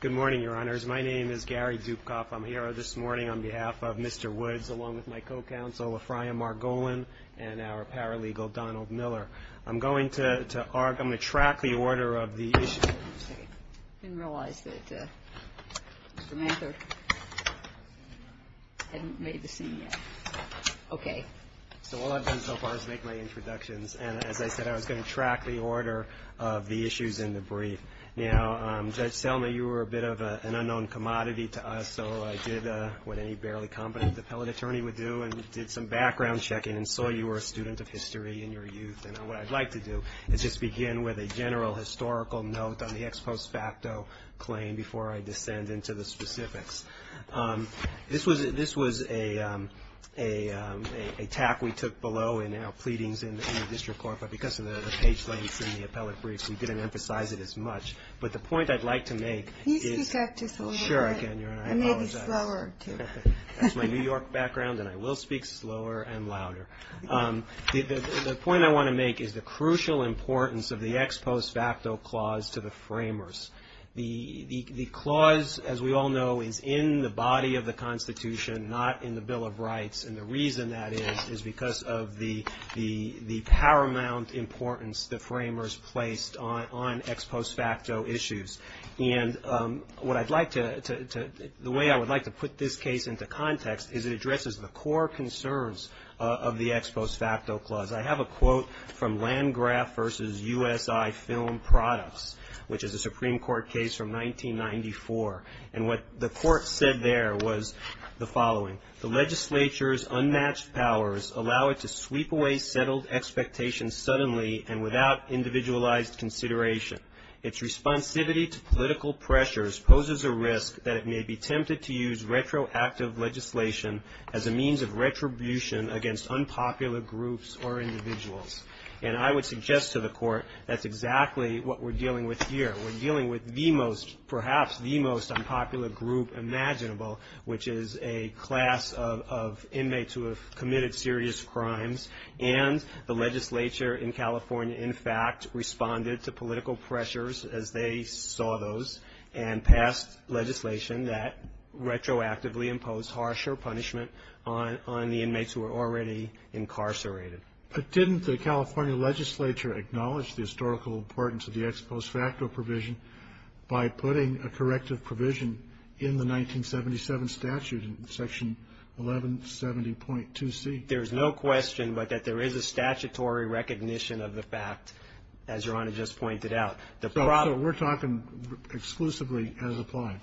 Good morning, Your Honors. My name is Gary Dupkoff. I'm here this morning on behalf of Mr. Woods, along with my co-counsel, LaFrya Margolin, and our paralegal, Donald Miller. I'm going to track the order of the issue. I didn't realize that Mr. Manther hadn't made the scene yet. Okay. So all I've done so far is make my introductions, and as I said, I was going to track the order of the issues in the brief. Now, Judge Selma, you were a bit of an unknown commodity to us, so I did what any barely competent appellate attorney would do, and did some background checking, and saw you were a student of history in your youth, and what I'd like to do is just begin with a general historical note on the ex post facto claim before I descend into the specifics. This was a tack we took below in our pleadings in the district court, but because of the page lengths in the appellate briefs, we didn't emphasize it as much, but the point I'd like to make is... Can you speak up just a little bit? Sure, I can, Your Honor. And maybe slower, too. That's my New York background, and I will speak slower and louder. The point I want to make is the crucial importance of the ex post facto clause to the framers. The clause, as we all know, is in the body of the Constitution, not in the Bill of Rights, and the reason that is is because of the paramount importance the framers placed on ex post facto issues, and what I'd like to... The way I would like to put this case into context is it addresses the core concerns of the ex post facto clause. I have a quote from Landgraf v. USI Film Products, which is a Supreme Court case from 1994, and what the court said there was the following, the legislature's unmatched powers allow it to sweep away settled expectations suddenly and without individualized consideration. Its responsivity to political pressures poses a risk that it may be tempted to use retroactive legislation as a means of retribution against unpopular groups or individuals. And I would suggest to the court that's exactly what we're dealing with here. We're dealing with the most, perhaps the most unpopular group imaginable, which is a class of inmates who have committed serious crimes, and the legislature in California in fact responded to political pressures as they saw those and passed legislation that retroactively imposed harsher punishment on the inmates who were already incarcerated. But didn't the California legislature acknowledge the historical importance of the ex post facto provision by putting a corrective provision in the 1977 statute in section 1170.2c? There's no question but that there is a statutory recognition of the fact, as Your Honor just pointed out. So we're talking exclusively as applied?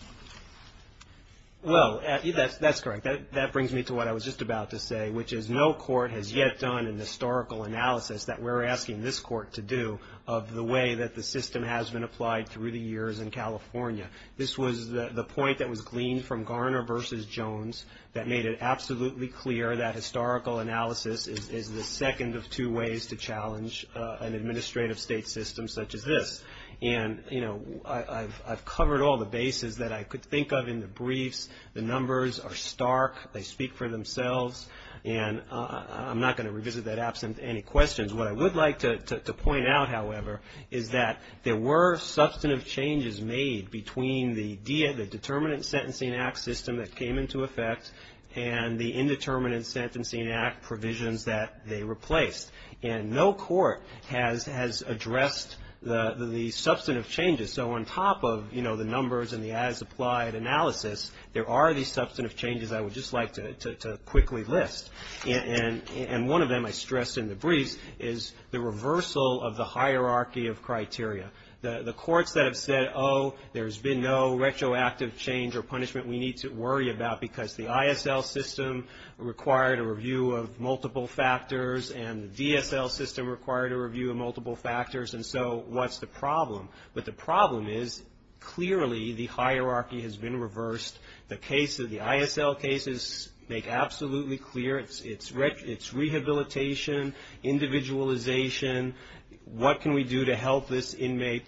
Well, that's correct. That brings me to what I was just about to say, which is no court has yet done an historical analysis that we're asking this court to do of the way that the system has been applied through the years in California. This was the point that was gleaned from Garner versus Jones that made it absolutely clear that historical analysis is the second of two ways to challenge an administrative state system such as this. And, you know, I've covered all the bases that I could think of in the briefs. The numbers are stark. They speak for themselves. And I'm not going to revisit that absent any questions. What I would like to point out, however, is that there were substantive changes made between the determinant sentencing act system that came into effect and the indeterminate sentencing act provisions that they replaced. And no court has addressed the substantive changes. So on top of, you know, the numbers and the as applied analysis, there are these substantive changes I would just like to quickly list. And one of them I stressed in the briefs is the reversal of the hierarchy of criteria. The courts that have said, oh, there's been no retroactive change or punishment we need to worry about because the ISL system required a review of multiple factors and the DSL system required a review of multiple factors and so what's the problem? But the problem is clearly the hierarchy has been reversed. The case of the ISL cases make absolutely clear it's rehabilitation, individualization. What can we do to help this inmate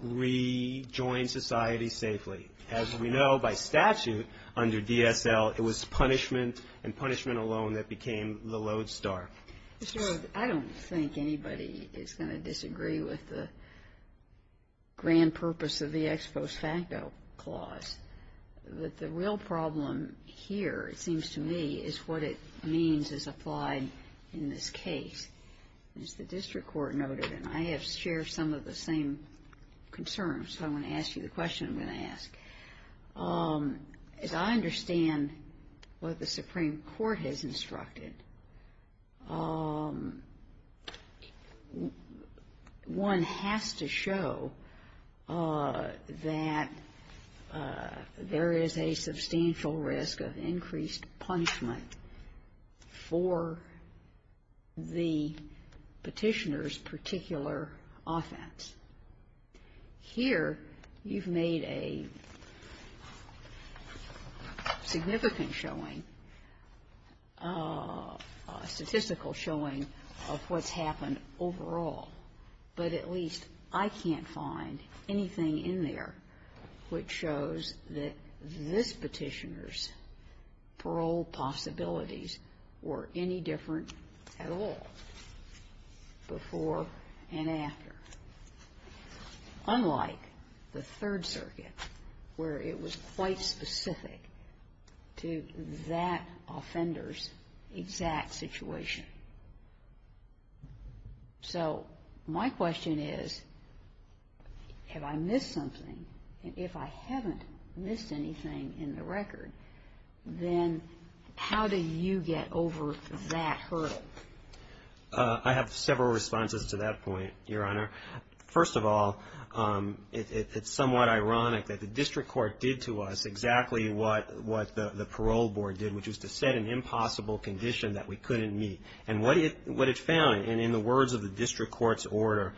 rejoin society safely? As we know by statute under DSL, it was punishment and punishment alone that became the lodestar. I don't think anybody is going to disagree with the grand purpose of the ex post facto clause, but the real problem here, it seems to me, is what it means as applied in this case. As the district court noted, and I have shared some of the same concerns, so I'm going to ask you the question I'm going to ask. As I understand what the Supreme Court has instructed, one has to show that there is a substantial risk of increased punishment for the petitioner's particular offense. Here, you've made a significant showing, a statistical showing of what's happened overall, but at least I can't find anything in there which shows that this petitioner's Unlike the Third Circuit, where it was quite specific to that offender's exact situation. So my question is, have I missed something? If I haven't missed anything in the record, then how do you get over that hurdle? I have several responses to that point, Your Honor. First of all, it's somewhat ironic that the district court did to us exactly what the parole board did, which was to set an impossible condition that we couldn't meet. And what it found, and in the words of the district court's order,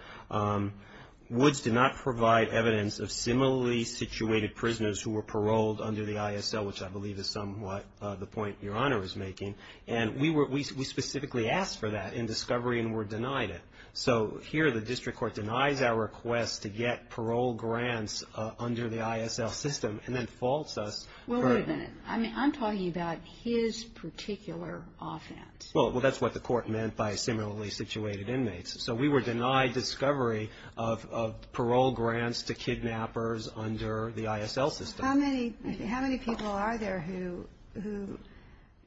Woods did not provide evidence of similarly situated prisoners who were paroled under the ISL, which I believe is somewhat the point Your Honor is making. And we specifically asked for that in discovery and were denied it. So here, the district court denies our request to get parole grants under the ISL system and then faults us. Well, wait a minute. I'm talking about his particular offense. Well, that's what the court meant by similarly situated inmates. So we were denied discovery of parole grants to kidnappers under the ISL system. How many people are there who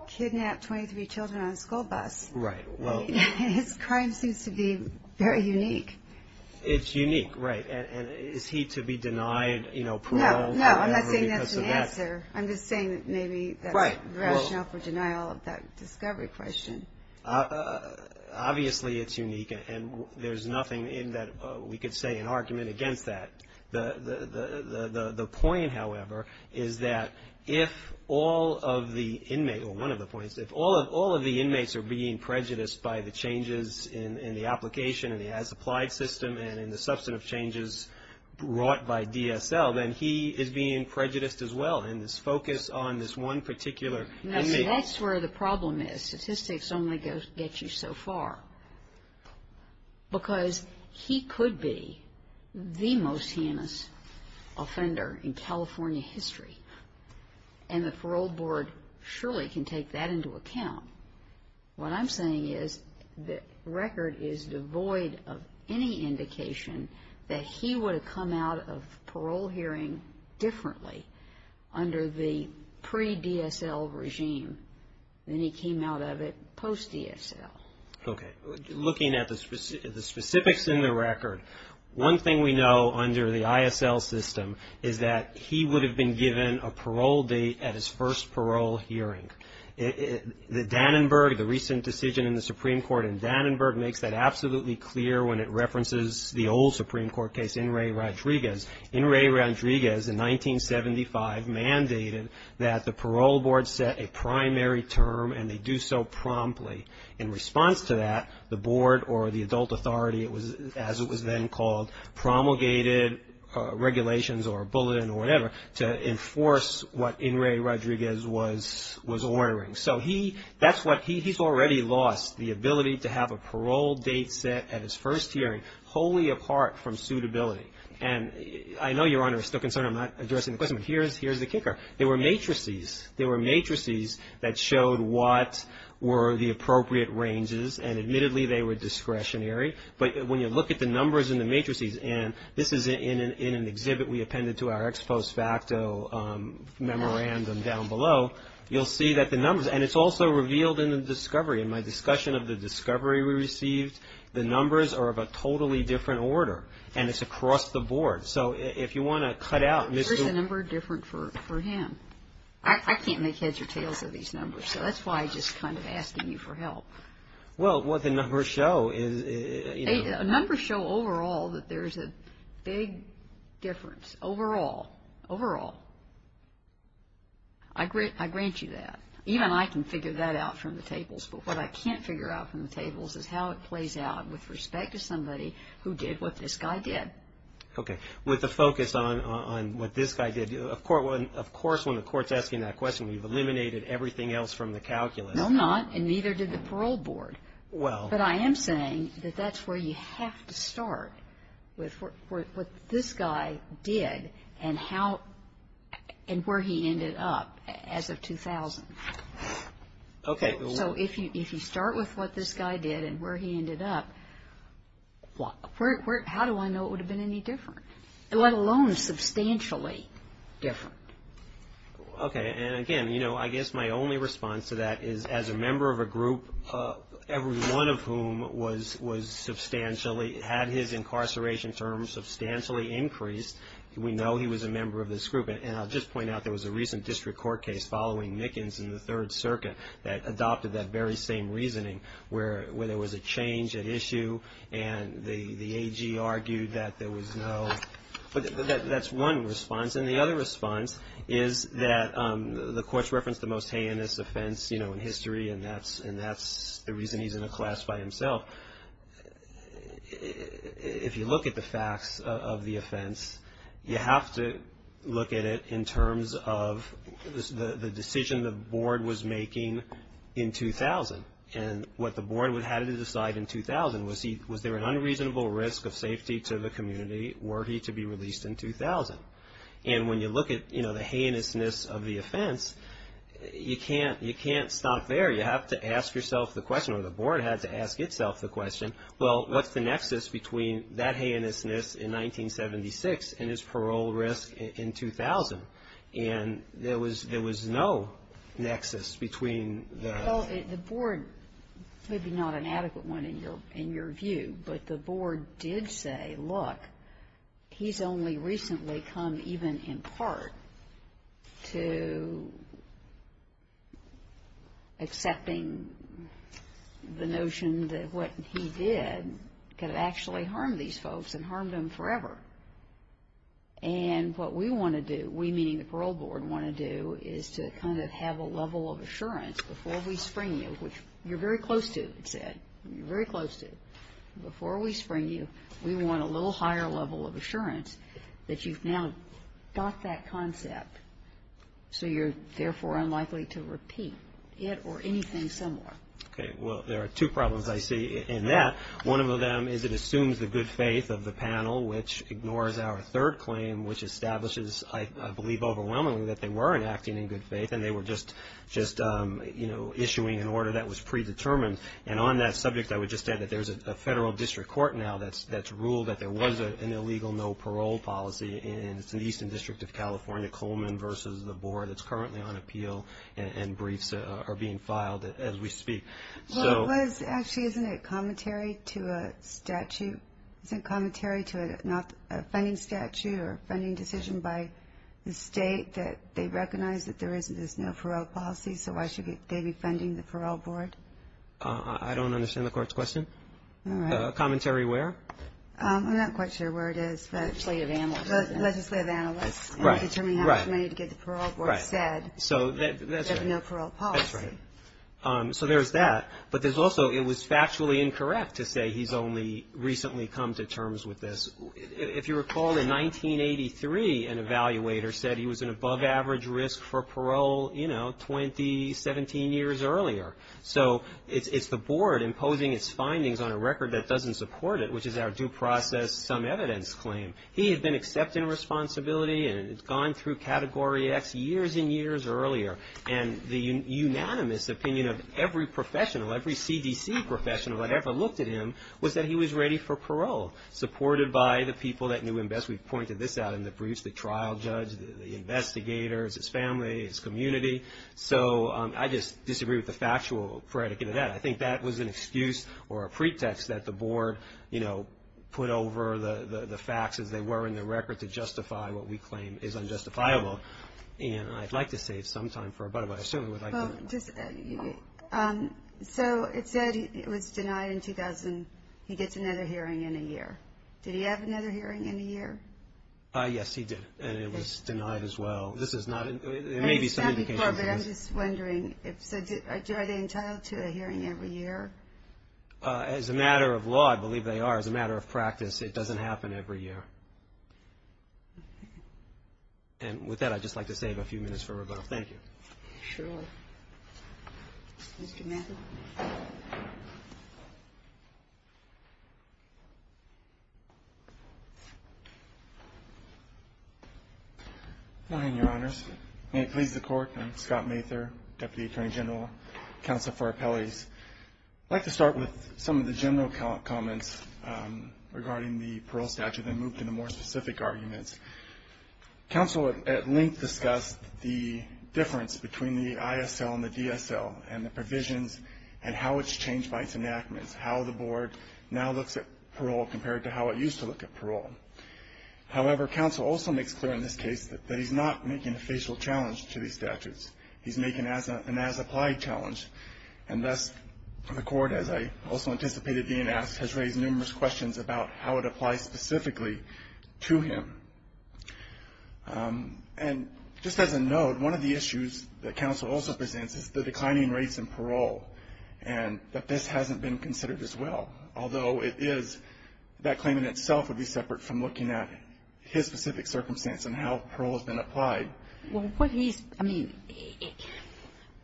kidnap 23 children on a school bus? Right. Well... His crime seems to be very unique. It's unique. Right. And is he to be denied parole? No. No. I'm not saying that's an answer. I'm just saying that maybe that's rational for denial of that discovery question. Obviously it's unique and there's nothing in that we could say an argument against that. The point, however, is that if all of the inmates, or one of the points, if all of the inmates are being prejudiced by the changes in the application and the as-applied system and in the substantive changes brought by DSL, then he is being prejudiced as well in his focus on this one particular inmate. That's where the problem is. The statistics only get you so far. Because he could be the most heinous offender in California history, and the parole board surely can take that into account. What I'm saying is the record is devoid of any indication that he would have come out of parole hearing differently under the pre-DSL regime than he came out of it post-DSL. Okay. Looking at the specifics in the record, one thing we know under the ISL system is that he would have been given a parole date at his first parole hearing. The Dannenberg, the recent decision in the Supreme Court in Dannenberg, makes that absolutely clear when it references the old Supreme Court case, In re Rodriguez. In re Rodriguez, in 1975, mandated that the parole board set a primary term and they do so promptly. In response to that, the board or the adult authority, as it was then called, promulgated regulations or a bulletin or whatever to enforce what In re Rodriguez was ordering. So he, that's what, he's already lost the ability to have a parole date set at his first hearing, wholly apart from suitability. And I know Your Honor is still concerned I'm not addressing the question, but here's the kicker. There were matrices. There were matrices that showed what were the appropriate ranges, and admittedly they were discretionary. But when you look at the numbers in the matrices, and this is in an exhibit we appended to our ex post facto memorandum down below, you'll see that the numbers, and it's also revealed in the discovery. In my discussion of the discovery we received, the numbers are of a totally different order, and it's across the board. So if you want to cut out, Ms. Here's a number different for him. I can't make heads or tails of these numbers, so that's why I'm just kind of asking you for help. Well, what the numbers show is, you know. Overall. I grant you that. Even I can figure that out from the tables, but what I can't figure out from the tables is how it plays out with respect to somebody who did what this guy did. Okay. With the focus on what this guy did, of course when the court's asking that question, we've eliminated everything else from the calculus. No, I'm not, and neither did the parole board. Well. But I am saying that that's where you have to start, with what this guy did and how, and where he ended up as of 2000. Okay. So if you start with what this guy did and where he ended up, how do I know it would have been any different, let alone substantially different? Okay. And again, you know, I guess my only response to that is as a member of a group, every one of whom was substantially, had his incarceration terms substantially increased, we know he was a member of this group. And I'll just point out there was a recent district court case following Nickens in the Third Circuit that adopted that very same reasoning, where there was a change at issue and the AG argued that there was no, but that's one response. And the other response is that the court's referenced the most heinous offense, you know, in history, and that's the reason he's in a class by himself. If you look at the facts of the offense, you have to look at it in terms of the decision the board was making in 2000. And what the board had to decide in 2000 was he, was there an unreasonable risk of safety to the community were he to be released in 2000? And when you look at, you know, the heinousness of the offense, you can't stop there. You have to ask yourself the question, or the board had to ask itself the question, well, what's the nexus between that heinousness in 1976 and his parole risk in 2000? And there was no nexus between the... Well, the board, maybe not an adequate one in your view, but the board did say, look, he's only recently come even in part to accepting the notion that what he did could have actually harmed these folks and harmed them forever. And what we want to do, we meaning the parole board, want to do is to kind of have a level of assurance before we spring you, which you're very close to, it said, you're very close to, before we spring you, we want a little higher level of assurance that you've now got that concept, so you're therefore unlikely to repeat it or anything similar. Okay. Well, there are two problems I see in that. One of them is it assumes the good faith of the panel, which ignores our third claim, which establishes, I believe overwhelmingly, that they were enacting in good faith and they were just, you know, issuing an order that was predetermined. And on that subject, I would just add that there's a federal district court now that's ruled that there was an illegal no parole policy and it's in the Eastern District of California, Coleman versus the board that's currently on appeal and briefs are being filed as we speak. So... Well, it was actually, isn't it commentary to a statute, isn't it commentary to a funding statute or a funding decision by the state that they recognize that there isn't this no parole policy, so why should they be funding the parole board? I don't understand the court's question. All right. Commentary where? I'm not quite sure where it is, but... Legislative analysts. Legislative analysts. Right. And determining how much money to give the parole board said... Right. So that's right. There's no parole policy. That's right. So there's that, but there's also, it was factually incorrect to say he's only recently come to terms with this. If you recall, in 1983, an evaluator said he was an above average risk for parole, you know, 20, 17 years earlier. So it's the board imposing its findings on a record that doesn't support it, which is our due process, some evidence claim. He had been accepted in responsibility and had gone through Category X years and years earlier and the unanimous opinion of every professional, every CDC professional that ever looked at him was that he was ready for parole, supported by the people that knew him best. We've pointed this out in the briefs, the trial judge, the investigators, his family, his community. So I just disagree with the factual predicate of that. I think that was an excuse or a pretext that the board, you know, put over the facts as they were in the record to justify what we claim is unjustifiable, and I'd like to save some time for... But I certainly would like to... So it said it was denied in 2000. He gets another hearing in a year. Did he have another hearing in a year? Yes, he did. And it was denied as well. This is not... There may be some indications of this. I understand before, but I'm just wondering, so are they entitled to a hearing every year? As a matter of law, I believe they are. As a matter of practice, it doesn't happen every year. And with that, I'd just like to save a few minutes for rebuttal. Thank you. Sure. Mr. Matthews? Good morning, Your Honors. May it please the Court. I'm Scott Mather, Deputy Attorney General, counsel for appellees. I'd like to start with some of the general comments regarding the parole statute and move to the more specific arguments. Counsel at length discussed the difference between the ISL and the DSL and the provisions and how it's changed by its enactments, how the Board now looks at parole compared to how it used to look at parole. However, counsel also makes clear in this case that he's not making a facial challenge to these statutes. He's making an as-applied challenge. And thus, the Court, as I also anticipated being asked, has raised numerous questions about how it applies specifically to him. And just as a note, one of the issues that counsel also presents is the declining rates in parole, and that this hasn't been considered as well, although it is, that claim in itself would be separate from looking at his specific circumstance and how parole has been applied. Well, what he's, I mean,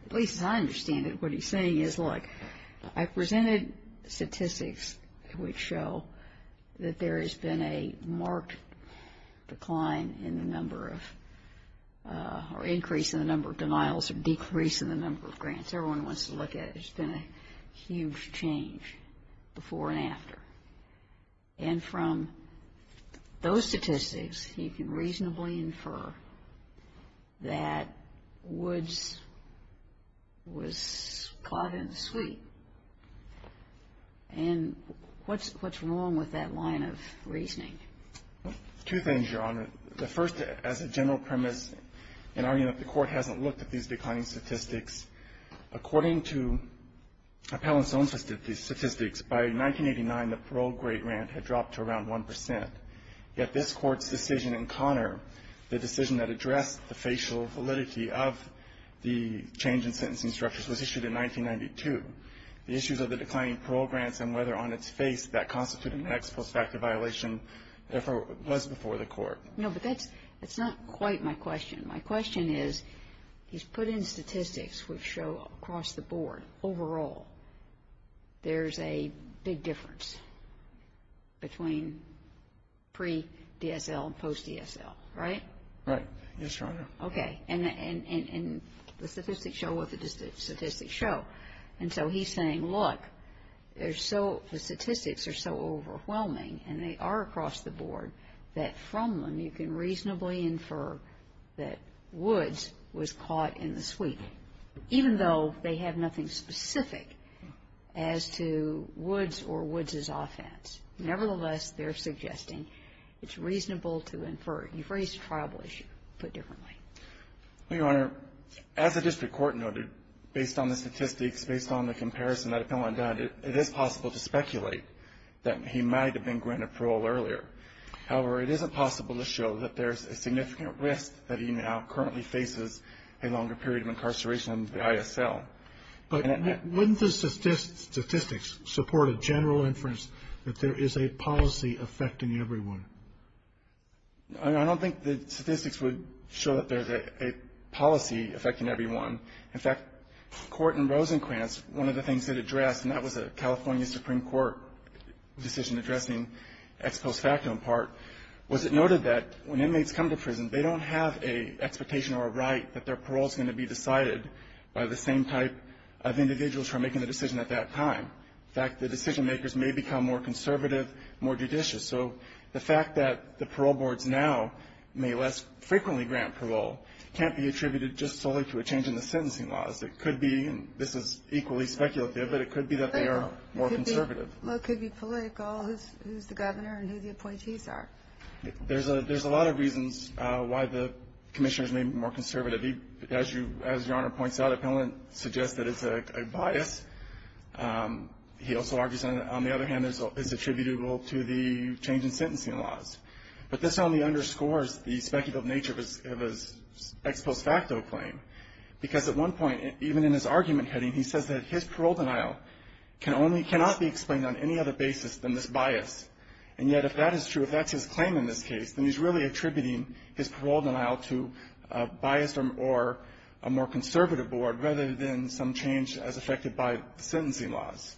at least as I understand it, what he's saying is, look, I presented statistics which show that there has been a marked decline in the number of, or increase in the number of denials or decrease in the number of grants. That's what everyone wants to look at. There's been a huge change before and after. And from those statistics, he can reasonably infer that Woods was caught in the sweet. And what's wrong with that line of reasoning? Two things, Your Honor. The first, as a general premise, in arguing that the Court hasn't looked at these declining statistics, according to Appellant's own statistics, by 1989, the parole grade grant had dropped to around 1 percent, yet this Court's decision in Connor, the decision that addressed the facial validity of the change in sentencing structures, was issued in 1992. The issues of the declining parole grants and whether on its face that constituted an No, but that's, that's not quite my question. My question is, he's put in statistics which show across the board, overall, there's a big difference between pre-DSL and post-DSL, right? Right. Yes, Your Honor. Okay. And the statistics show what the statistics show. And so he's saying, look, there's so, the statistics are so overwhelming, and they are across the board, that from them, you can reasonably infer that Woods was caught in the sweet, even though they have nothing specific as to Woods or Woods' offense. Nevertheless, they're suggesting it's reasonable to infer. You've raised a tribal issue, put differently. Well, Your Honor, as the district court noted, based on the statistics, based on the comparison that I've gone and done, it is possible to speculate that he might have been granted parole earlier. However, it isn't possible to show that there's a significant risk that he now currently faces a longer period of incarceration under the ISL. But wouldn't the statistics support a general inference that there is a policy affecting everyone? I don't think the statistics would show that there's a policy affecting everyone. In fact, Court in Rosenquantz, one of the things it addressed, and that was a California Supreme Court decision addressing ex post facto in part, was it noted that when inmates come to prison, they don't have an expectation or a right that their parole is going to be decided by the same type of individuals who are making the decision at that time. In fact, the decision makers may become more conservative, more judicious. So the fact that the parole boards now may less frequently grant parole can't be attributed just solely to a change in the sentencing laws. It could be, and this is equally speculative, but it could be that they are more conservative. Well, it could be political, who's the governor and who the appointees are. There's a lot of reasons why the commissioners may be more conservative. As Your Honor points out, appellant suggests that it's a bias. He also argues, on the other hand, it's attributable to the change in sentencing laws. But this only underscores the speculative nature of his ex post facto claim, because at one point, even in his argument heading, he says that his parole denial cannot be explained on any other basis than this bias. And yet, if that is true, if that's his claim in this case, then he's really attributing his parole denial to a biased or a more conservative board, rather than some change as affected by sentencing laws.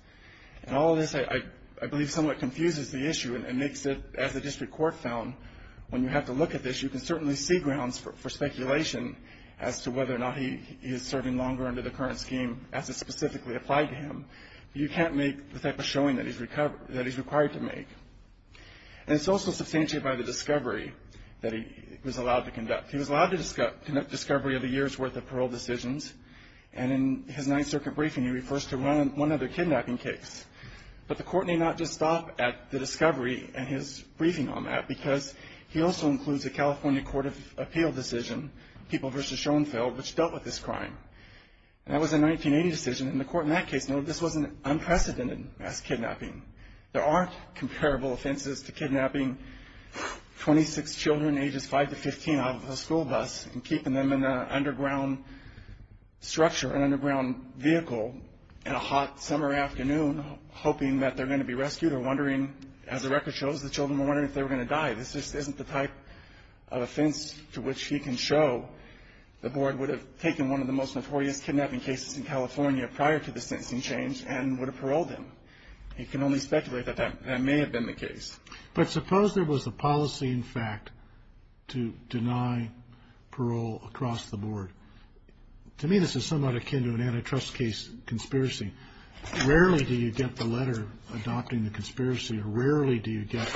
And all of this, I believe, somewhat confuses the issue and makes it, as the district court found, when you have to look at this, you can certainly see grounds for speculation as to whether or not he is serving longer under the current scheme as it specifically applied to him. But you can't make the type of showing that he's required to make. And it's also substantiated by the discovery that he was allowed to conduct. He was allowed to conduct discovery of a year's worth of parole decisions. And in his Ninth Circuit briefing, he refers to one other kidnapping case. But the court may not just stop at the discovery and his briefing on that, because he also includes a California Court of Appeal decision, People v. Schoenfeld, which dealt with this crime. And that was a 1980 decision, and the court in that case noted this wasn't unprecedented mass kidnapping. There aren't comparable offenses to kidnapping 26 children ages 5 to 15 out of a school bus and keeping them in an underground structure, an underground vehicle, in a hot summer afternoon, hoping that they're going to be rescued or wondering, as the record shows, the children were wondering if they were going to die. This just isn't the type of offense to which he can show the board would have taken one of the most notorious kidnapping cases in California prior to the sentencing change and would have paroled him. You can only speculate that that may have been the case. But suppose there was a policy, in fact, to deny parole across the board. To me, this is somewhat akin to an antitrust case conspiracy. Rarely do you get the letter adopting the conspiracy. Rarely do you get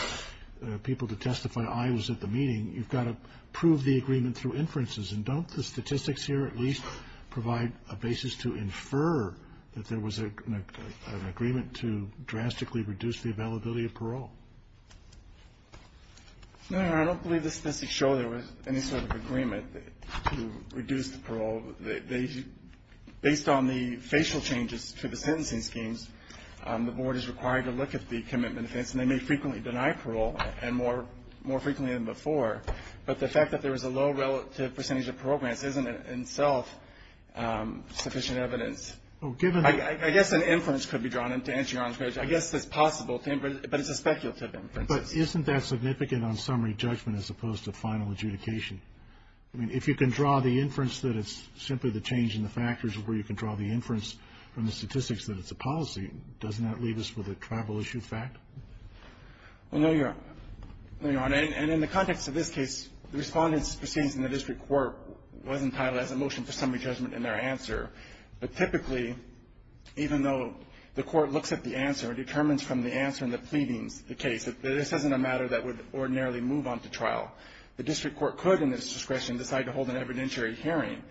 people to testify, I was at the meeting. You've got to prove the agreement through inferences. And don't the statistics here at least provide a basis to infer that there was an agreement to drastically reduce the availability of parole? No, I don't believe the statistics show there was any sort of agreement to reduce the parole. Based on the facial changes to the sentencing schemes, the board is required to look at the commitment offense. And they may frequently deny parole, and more frequently than before. But the fact that there was a low relative percentage of parole grants isn't in itself sufficient evidence. I guess an inference could be drawn in to answer your question. I guess it's possible to infer, but it's a speculative inference. But isn't that significant on summary judgment as opposed to final adjudication? I mean, if you can draw the inference that it's simply the change in the factors where you can draw the inference from the statistics that it's a policy, doesn't that leave us with a tribal-issued fact? Well, no, Your Honor. And in the context of this case, the respondents' proceedings in the district court wasn't titled as a motion for summary judgment in their answer. But typically, even though the court looks at the answer, determines from the answer in the pleadings, the case, that this isn't a matter that would ordinarily move on to trial. The district court could, in its discretion, decide to hold an evidentiary hearing.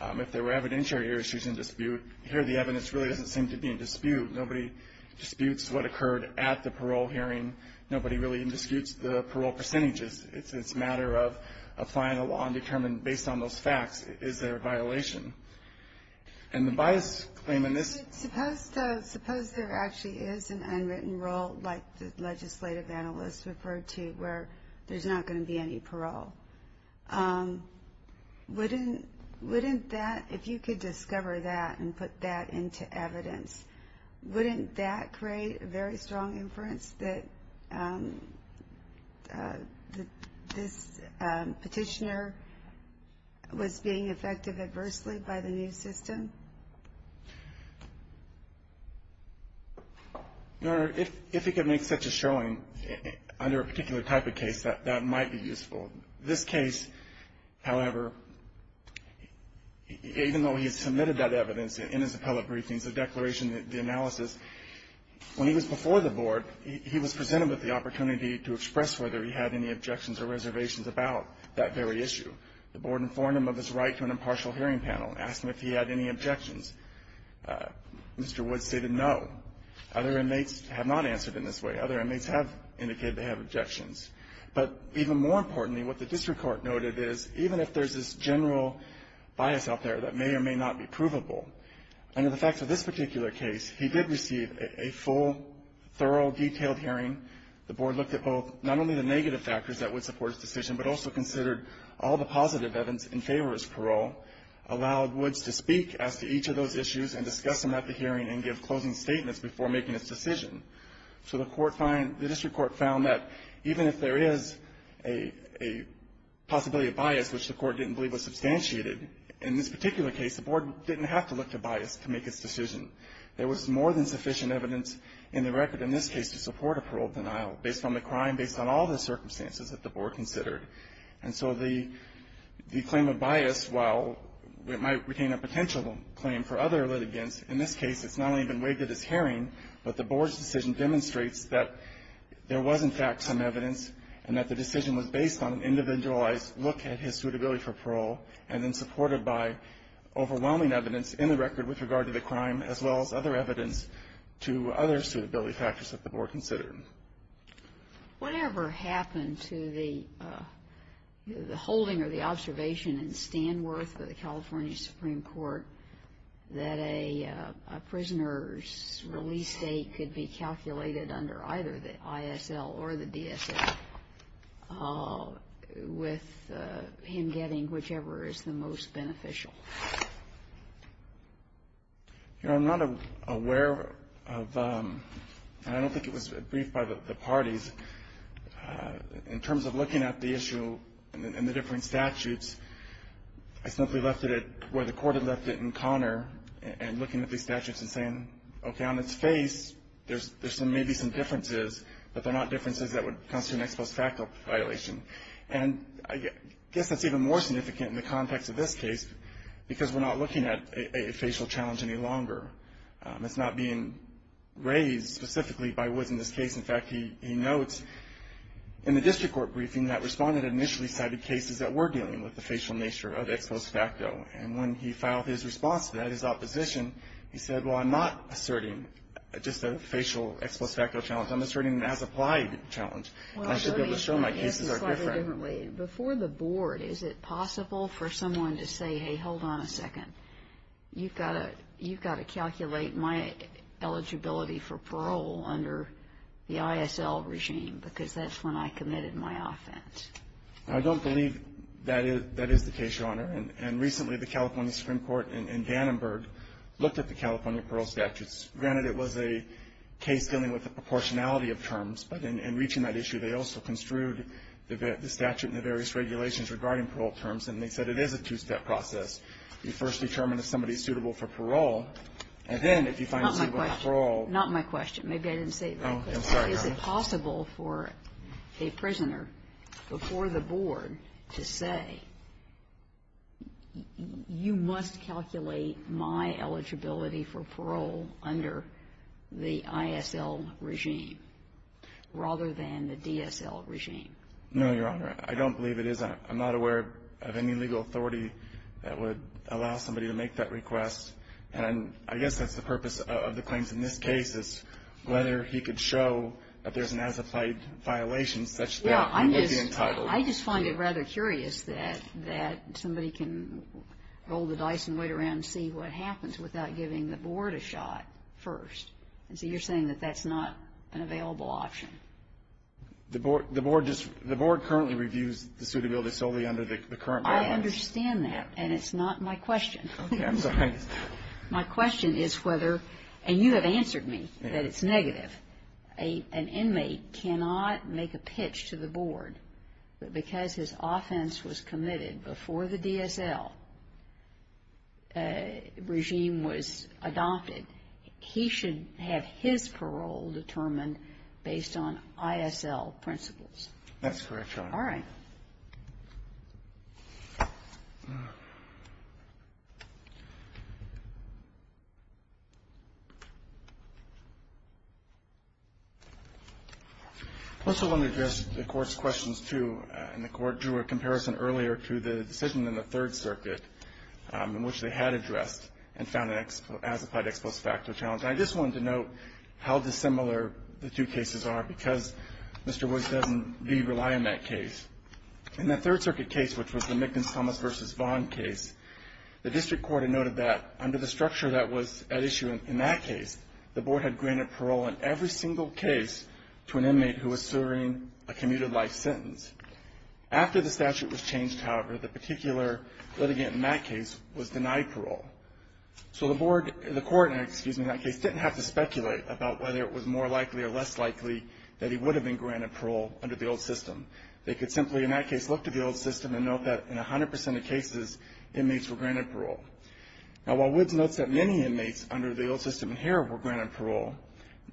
If there were evidentiary issues in dispute, here the evidence really doesn't seem to be in dispute. Nobody disputes what occurred at the parole hearing. Nobody really indisputes the parole percentages. It's a matter of applying a law and determine, based on those facts, is there a violation. And the bias claim in this... Suppose there actually is an unwritten rule, like the legislative analysts referred to, where there's not going to be any parole. Wouldn't that, if you could discover that and put that into evidence, wouldn't that create a very strong inference that this petitioner was being effective adversely by the new system? Your Honor, if you could make such a showing under a particular type of case, that might be useful. This case, however, even though he has submitted that evidence in his appellate briefings, the declaration, the analysis, when he was before the Board, he was presented with the opportunity to express whether he had any objections or reservations about that very issue. The Board informed him of his right to an impartial hearing panel, asked him if he had any objections. Mr. Woods stated no. Other inmates have not answered in this way. Other inmates have indicated they have objections. But even more importantly, what the district court noted is, even if there's this general bias out there that may or may not be provable, under the facts of this particular case, he did receive a full, thorough, detailed hearing. The Board looked at both, not only the negative factors that would support his decision, but also considered all the positive evidence in favor of his parole, allowed Woods to speak as to each of those issues and discuss them at the hearing and give closing statements before making his decision. So the district court found that, even if there is a possibility of bias, which the court didn't believe was substantiated, in this particular case, the Board didn't have to look to bias to make its decision. There was more than sufficient evidence in the record, in this case, to support a parole denial, based on the crime, based on all the circumstances that the Board considered. And so the claim of bias, while it might retain a potential claim for other litigants, in this case, it's not only been waived at his hearing, but the Board's decision demonstrates that there was, in fact, some evidence and that the decision was based on an individualized look at his suitability for parole and then supported by overwhelming evidence in the record with regard to the crime as well as other evidence to other suitability factors that the Board considered. Whatever happened to the holding or the observation in Stanworth of the California Supreme Court that a prisoner's release date could be calculated under either the ISL or the DSL with him getting whichever is the most beneficial? You know, I'm not aware of and I don't think it was briefed by the parties in terms of looking at the issue and the different statutes I simply left it where the Court had left it in Connor and looking at these statutes and saying okay, on its face there may be some differences but they're not differences that would constitute an ex post facto violation and I guess that's even more significant in the context of this case because we're not looking at a facial challenge any longer it's not being raised specifically by Woods in this case in fact, he notes in the district court briefing that respondent initially cited cases that were dealing with the facial nature of ex post facto and when he filed his response to that, his opposition he said, well, I'm not asserting just a facial ex post facto challenge I'm asserting an as applied challenge I should be able to show my cases are different Before the board, is it possible for someone to say, hey, hold on a second you've got to calculate my eligibility for parole under the ISL regime because that's when I committed my offense I don't believe that is the case, Your Honor and recently the California Supreme Court in Vandenberg looked at the California parole statutes, granted it was a proportionality of terms, but in reaching that issue, they also construed the statute and the various regulations regarding parole terms, and they said it is a two-step process you first determine if somebody's suitable for parole, and then if you find them suitable for parole Not my question, maybe I didn't say it very clearly Is it possible for a prisoner before the board to say you must calculate my eligibility for parole under the ISL regime rather than the DSL regime No, Your Honor, I don't believe it is I'm not aware of any legal authority that would allow somebody to make that request, and I guess that's the purpose of the claims in this case is whether he could show that there's an as-applied violation such that he would be entitled I just find it rather curious that somebody can roll the dice and wait around and see what happens without giving the board a shot first, and so you're saying that that's not an available option The board currently reviews the suitability solely under the current guidelines I understand that, and it's not my question My question is whether, and you have answered me that it's negative An inmate cannot make a pitch to the board but because his offense was committed before the DSL regime was adopted he should have his parole determined based on ISL principles That's correct, Your Honor I also want to address the Court's questions, too and the Court drew a comparison earlier to the decision in the Third Circuit in which they had addressed and found an as-applied explosive factor challenge, and I just wanted to note how dissimilar the two cases are because Mr. Royce doesn't rely on that case In the Third Circuit case, which was the Mickens-Thomas v. Vaughn case, the district court had noted that under the structure that was at issue in that case the board had granted parole in every single case to an inmate who was suing a commuted life sentence After the statute was changed, however, the particular litigant in that case was denied parole So the court in that case didn't have to speculate about whether it was more likely or less likely that he would have been granted parole under the old system. They could simply, in that case, look to the old system and note that in 100% of cases inmates were granted parole Now, while Woods notes that many inmates under the old system here were granted parole,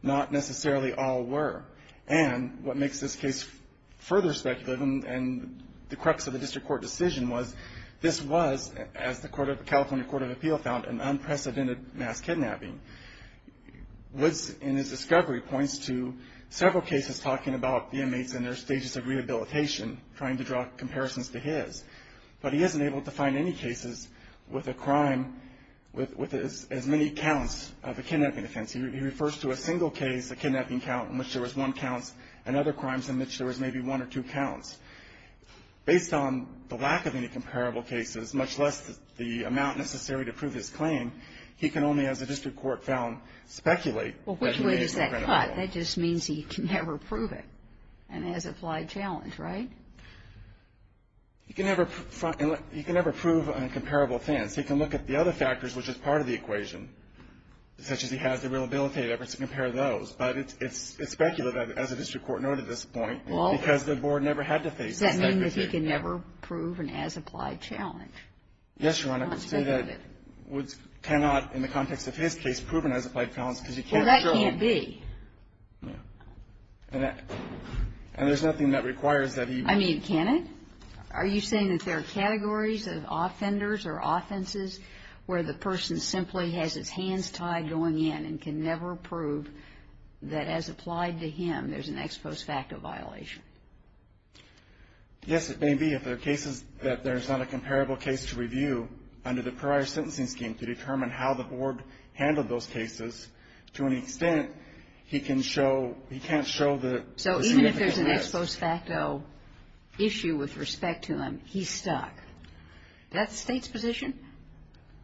not necessarily all were, and what makes this case further speculative and the crux of the district court decision was this was, as the California Court of Appeal found, an unprecedented mass kidnapping Woods, in his discovery, points to several cases talking about the inmates in their stages of rehabilitation, trying to draw comparisons to his, but he isn't able to find any cases with a crime with as many counts of a kidnapping offense He refers to a single case, a kidnapping count in which there was one count, and other crimes in which there was maybe one or two counts Based on the lack of any comparable cases, much less the amount necessary to prove his claim he can only, as the district court found, speculate Well, which way does that cut? That just means he can never prove it and has applied challenge, right? He can never He can never prove a comparable offense. He can look at the other factors which is part of the equation such as he has the rehabilitative efforts to compare those but it's speculative, as the district court noted at this point, because the board never had to face this Does that mean he can never prove an as-applied challenge? Yes, Your Honor, I would say that Woods cannot, in the context of his case, prove an as-applied challenge Well, that can't be And there's nothing that requires that he I mean, can it? Are you saying that there are categories of offenders or offenses where the person simply has his hands tied going in and can never prove that as applied to him, there's an ex post facto violation? Yes, it may be if there are cases that there's not a comparable case to review under the prior sentencing scheme to determine how the board handled those cases to an extent, he can show he can't show the significance So even if there's an ex post facto issue with respect to him, he's stuck Is that the State's position?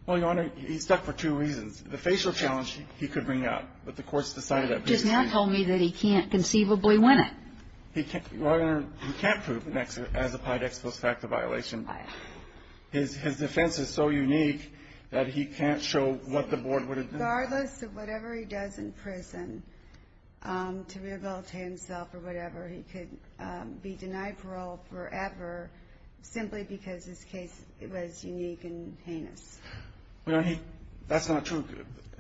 Well, Your Honor, he's stuck He's stuck for two reasons. The facial challenge he could bring up, but the court's decided Just now told me that he can't conceivably win it He can't prove an as-applied ex post facto violation His defense is so unique that he can't show what the board Regardless of whatever he does in prison to rehabilitate himself or whatever he could be denied parole forever, simply because his case was unique and That's not true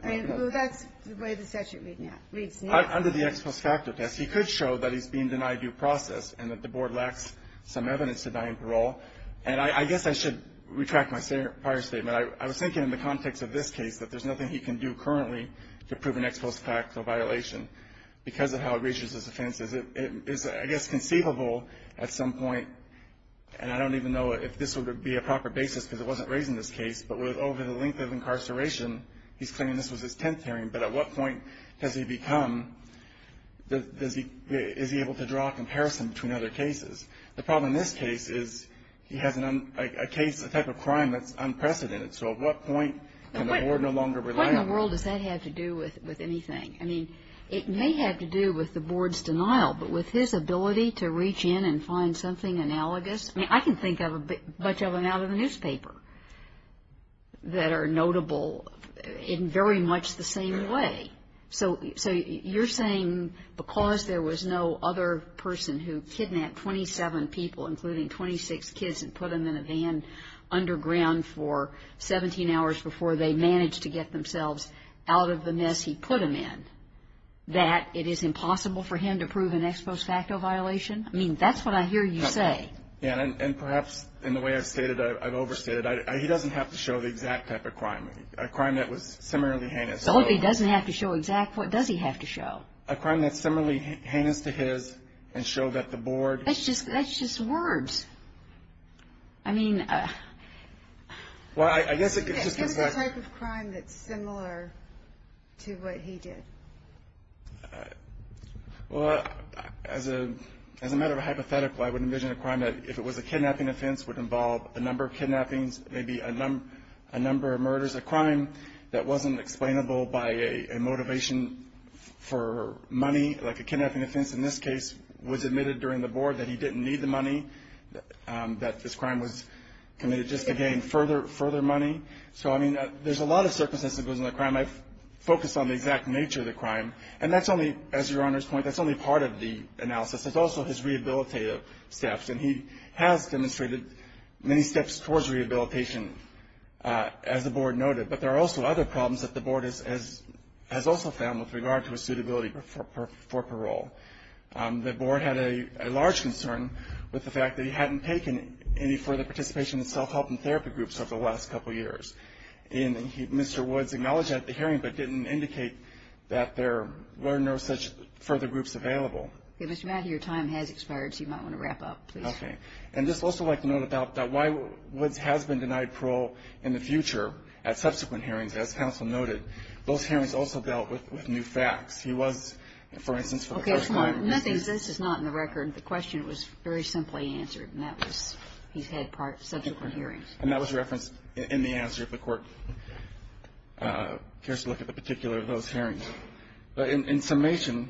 That's the way the statute reads now Under the ex post facto test, he could show that he's being denied due process and that the board lacks some evidence to deny him parole and I guess I should retract my prior statement I was thinking in the context of this case that there's nothing he can do currently to prove an ex post facto violation because of how gracious his offense is I guess conceivable at some point and I don't even know if this would be a proper basis because it wasn't raised in this case but over the length of incarceration he's claiming this was his 10th hearing but at what point has he become is he able to draw a comparison between other cases The problem in this case is he has a type of crime that's unprecedented so at what point can the board no longer rely on him? What in the world does that have to do with anything? It may have to do with the board's denial but with his ability to reach in and find something analogous I can think of a bunch of them out of the newspaper that are notable in very much the same way so you're saying because there was no other person who kidnapped 27 people including 26 kids and put them in a van underground for 17 hours before they managed to get themselves out of the mess he put them in that it is impossible for him to prove an ex post facto violation? I mean that's what I hear you say And perhaps in the way I've stated I've overstated he doesn't have to show the exact type of crime a crime that was similarly heinous So if he doesn't have to show exact what does he have to show? A crime that's similarly heinous to his and show that the board That's just words I mean Well I guess Give us a type of crime that's similar to what he did Well As a As a matter of hypothetical I would envision a crime that if it was a kidnapping offense would involve a number of kidnappings maybe a number of murders a crime that wasn't explainable by a motivation for money like a kidnapping offense in this case was admitted during the board that he didn't need the money that this crime was committed just to gain further money So I mean there's a lot of circumstances I focus on the exact nature of the crime and that's only as your honor's point that's only part of the analysis it's also his rehabilitative steps and he has demonstrated many steps towards rehabilitation as the board noted but there are also other problems that the board has also found with regard to suitability for parole The board had a large concern with the fact that he hadn't taken any further participation in self-help and therapy groups over the last couple years and Mr. Woods acknowledged that at the hearing but didn't indicate that there were no such further groups available Your time has expired so you might want to wrap up I'd just also like to note about why Woods has been denied parole in the future at subsequent hearings as counsel noted those hearings also dealt with new facts he was for instance This is not in the record the question was very simply answered he's had subsequent hearings and that was referenced in the answer if the court cares to look at the particular of those hearings but in summation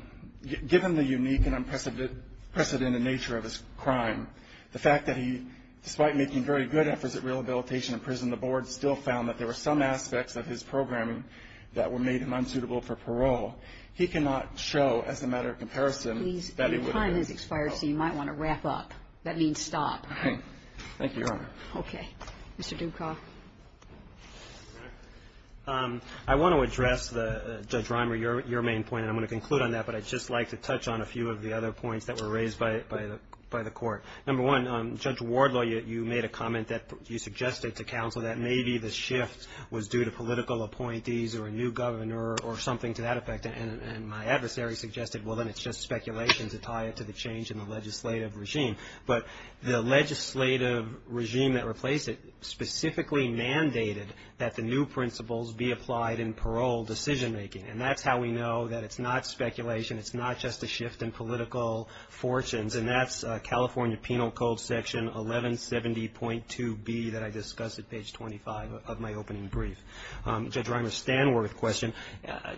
given the unique and unprecedented nature of his crime the fact that he despite making very good efforts at rehabilitation and prison the board still found that there were some aspects of his programming that made him unsuitable for parole he cannot show as a matter of comparison that he would have been able to help Your time has expired so you might want to wrap up That means stop Thank you Your Honor Mr. Dukoff I want to address Judge Reimer your main point and I'm going to conclude on that but I'd just like to touch on a few of the other points that were raised by the court Judge Wardlaw you made a comment you suggested to counsel that maybe the shift was due to political appointees or a new governor or something to that effect and my adversary suggested well then it's just speculation to tie it to the change in the legislative regime but the legislative regime that replaced it specifically mandated that the new principles be applied in parole decision making and that's how we know that it's not speculation it's not just a shift in political fortunes and that's California Penal Code section 1170.2b that I discussed at page 25 of my opening brief Judge Reimer Stanworth question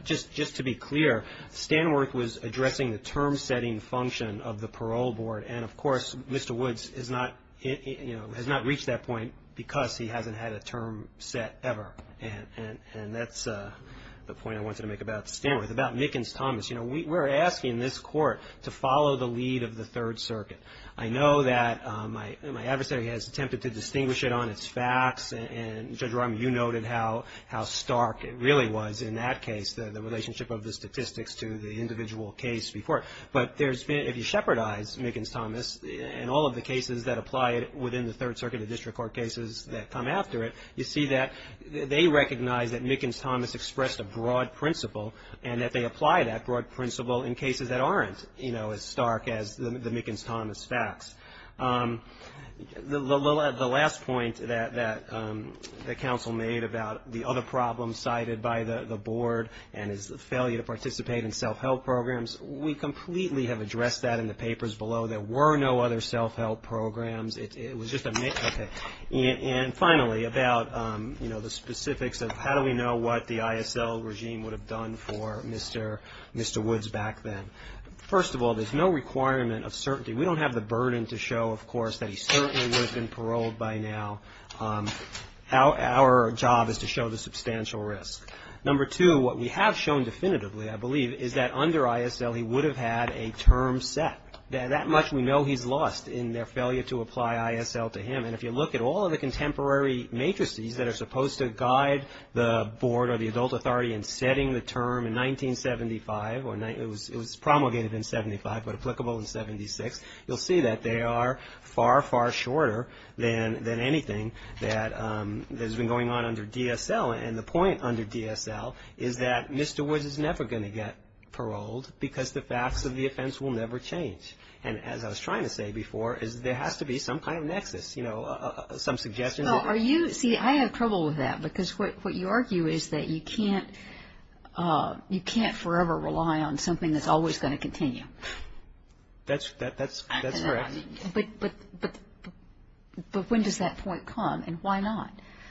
just to be clear Stanworth was addressing the term setting function of the parole board and of course Mr. Woods has not reached that point because he hasn't had a term set ever and that's the point I wanted to make about Stanworth about Mickens-Thomas we're asking this court to follow the lead of the third circuit I know that my adversary has attempted to distinguish it on its facts and Judge Reimer you noted how stark it really was in that case the relationship of the statistics to the individual case before but there's been if you shepherdize Mickens-Thomas in all of the cases that apply within the third circuit of district court cases that come after it you see that they recognize that Mickens-Thomas expressed a broad principle and that they apply that broad principle in cases that aren't you know as stark as the Mickens-Thomas facts the last point that the counsel made about the other problems cited by the board and his failure to participate in self-help programs we completely have addressed that in the papers below there were no other self-help programs it was just a myth and finally about the specifics of how do we know what the ISL regime would have done for Mr. Woods back then first of all there's no requirement of certainty we don't have the burden to show of course that he certainly would have been paroled by now our job is to show the substantial risk number two what we have shown definitively I believe is that under ISL he would have had a term set that much we know he's lost in their failure to apply ISL to him and if you look at all of the contemporary matrices that are supposed to guide the board or the adult authority in setting the term in 1975 it was promulgated in 75 but applicable in 76 you'll see that they are far far shorter than anything that has been going on under DSL and the point under DSL is that Mr. Woods is never going to get paroled because the facts of the offense will never change and as I was trying to say before there has to be some kind of nexus some suggestion I have trouble with that because what you argue is that you can't you can't forever rely on something that's always going to continue that's correct but but when does that point come and why not?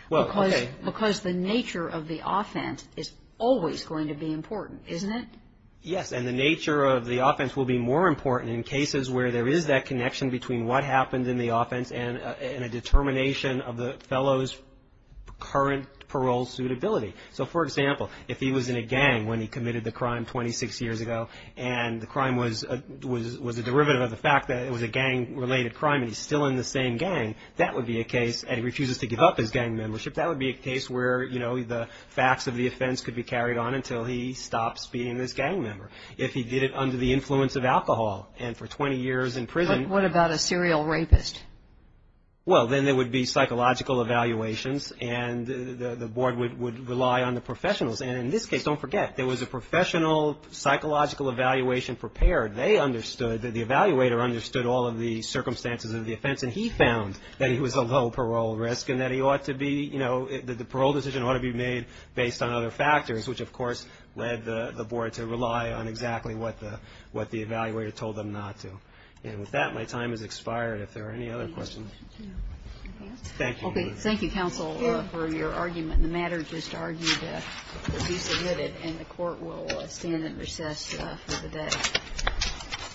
because the nature of the offense is always going to be important isn't it? yes and the nature of the offense will be more important in cases where there is that connection between what happened in the offense and a determination of the fellow's current parole suitability so for example if he was in a gang when he committed the crime 26 years ago and the crime was was a derivative of the fact that it was a gang related crime and he's still in the same gang that would be a case and he refuses to give up his gang membership that would be a case where you know the facts of the offense could be carried on until he stops being this gang member if he did it under the influence of alcohol and for 20 years in prison what about a serial rapist? well then there would be psychological evaluations and the board would rely on the professionals and in this case don't forget there was a professional psychological evaluation prepared the evaluator understood all of the circumstances of the offense and he found that he was a low parole risk and that the parole decision ought to be made based on other factors which of course led the board to rely on exactly what the evaluator told them not to and with that my time has expired if there are any other questions thank you counsel for your argument the matter just argued to be submitted and the court will stand at recess for the day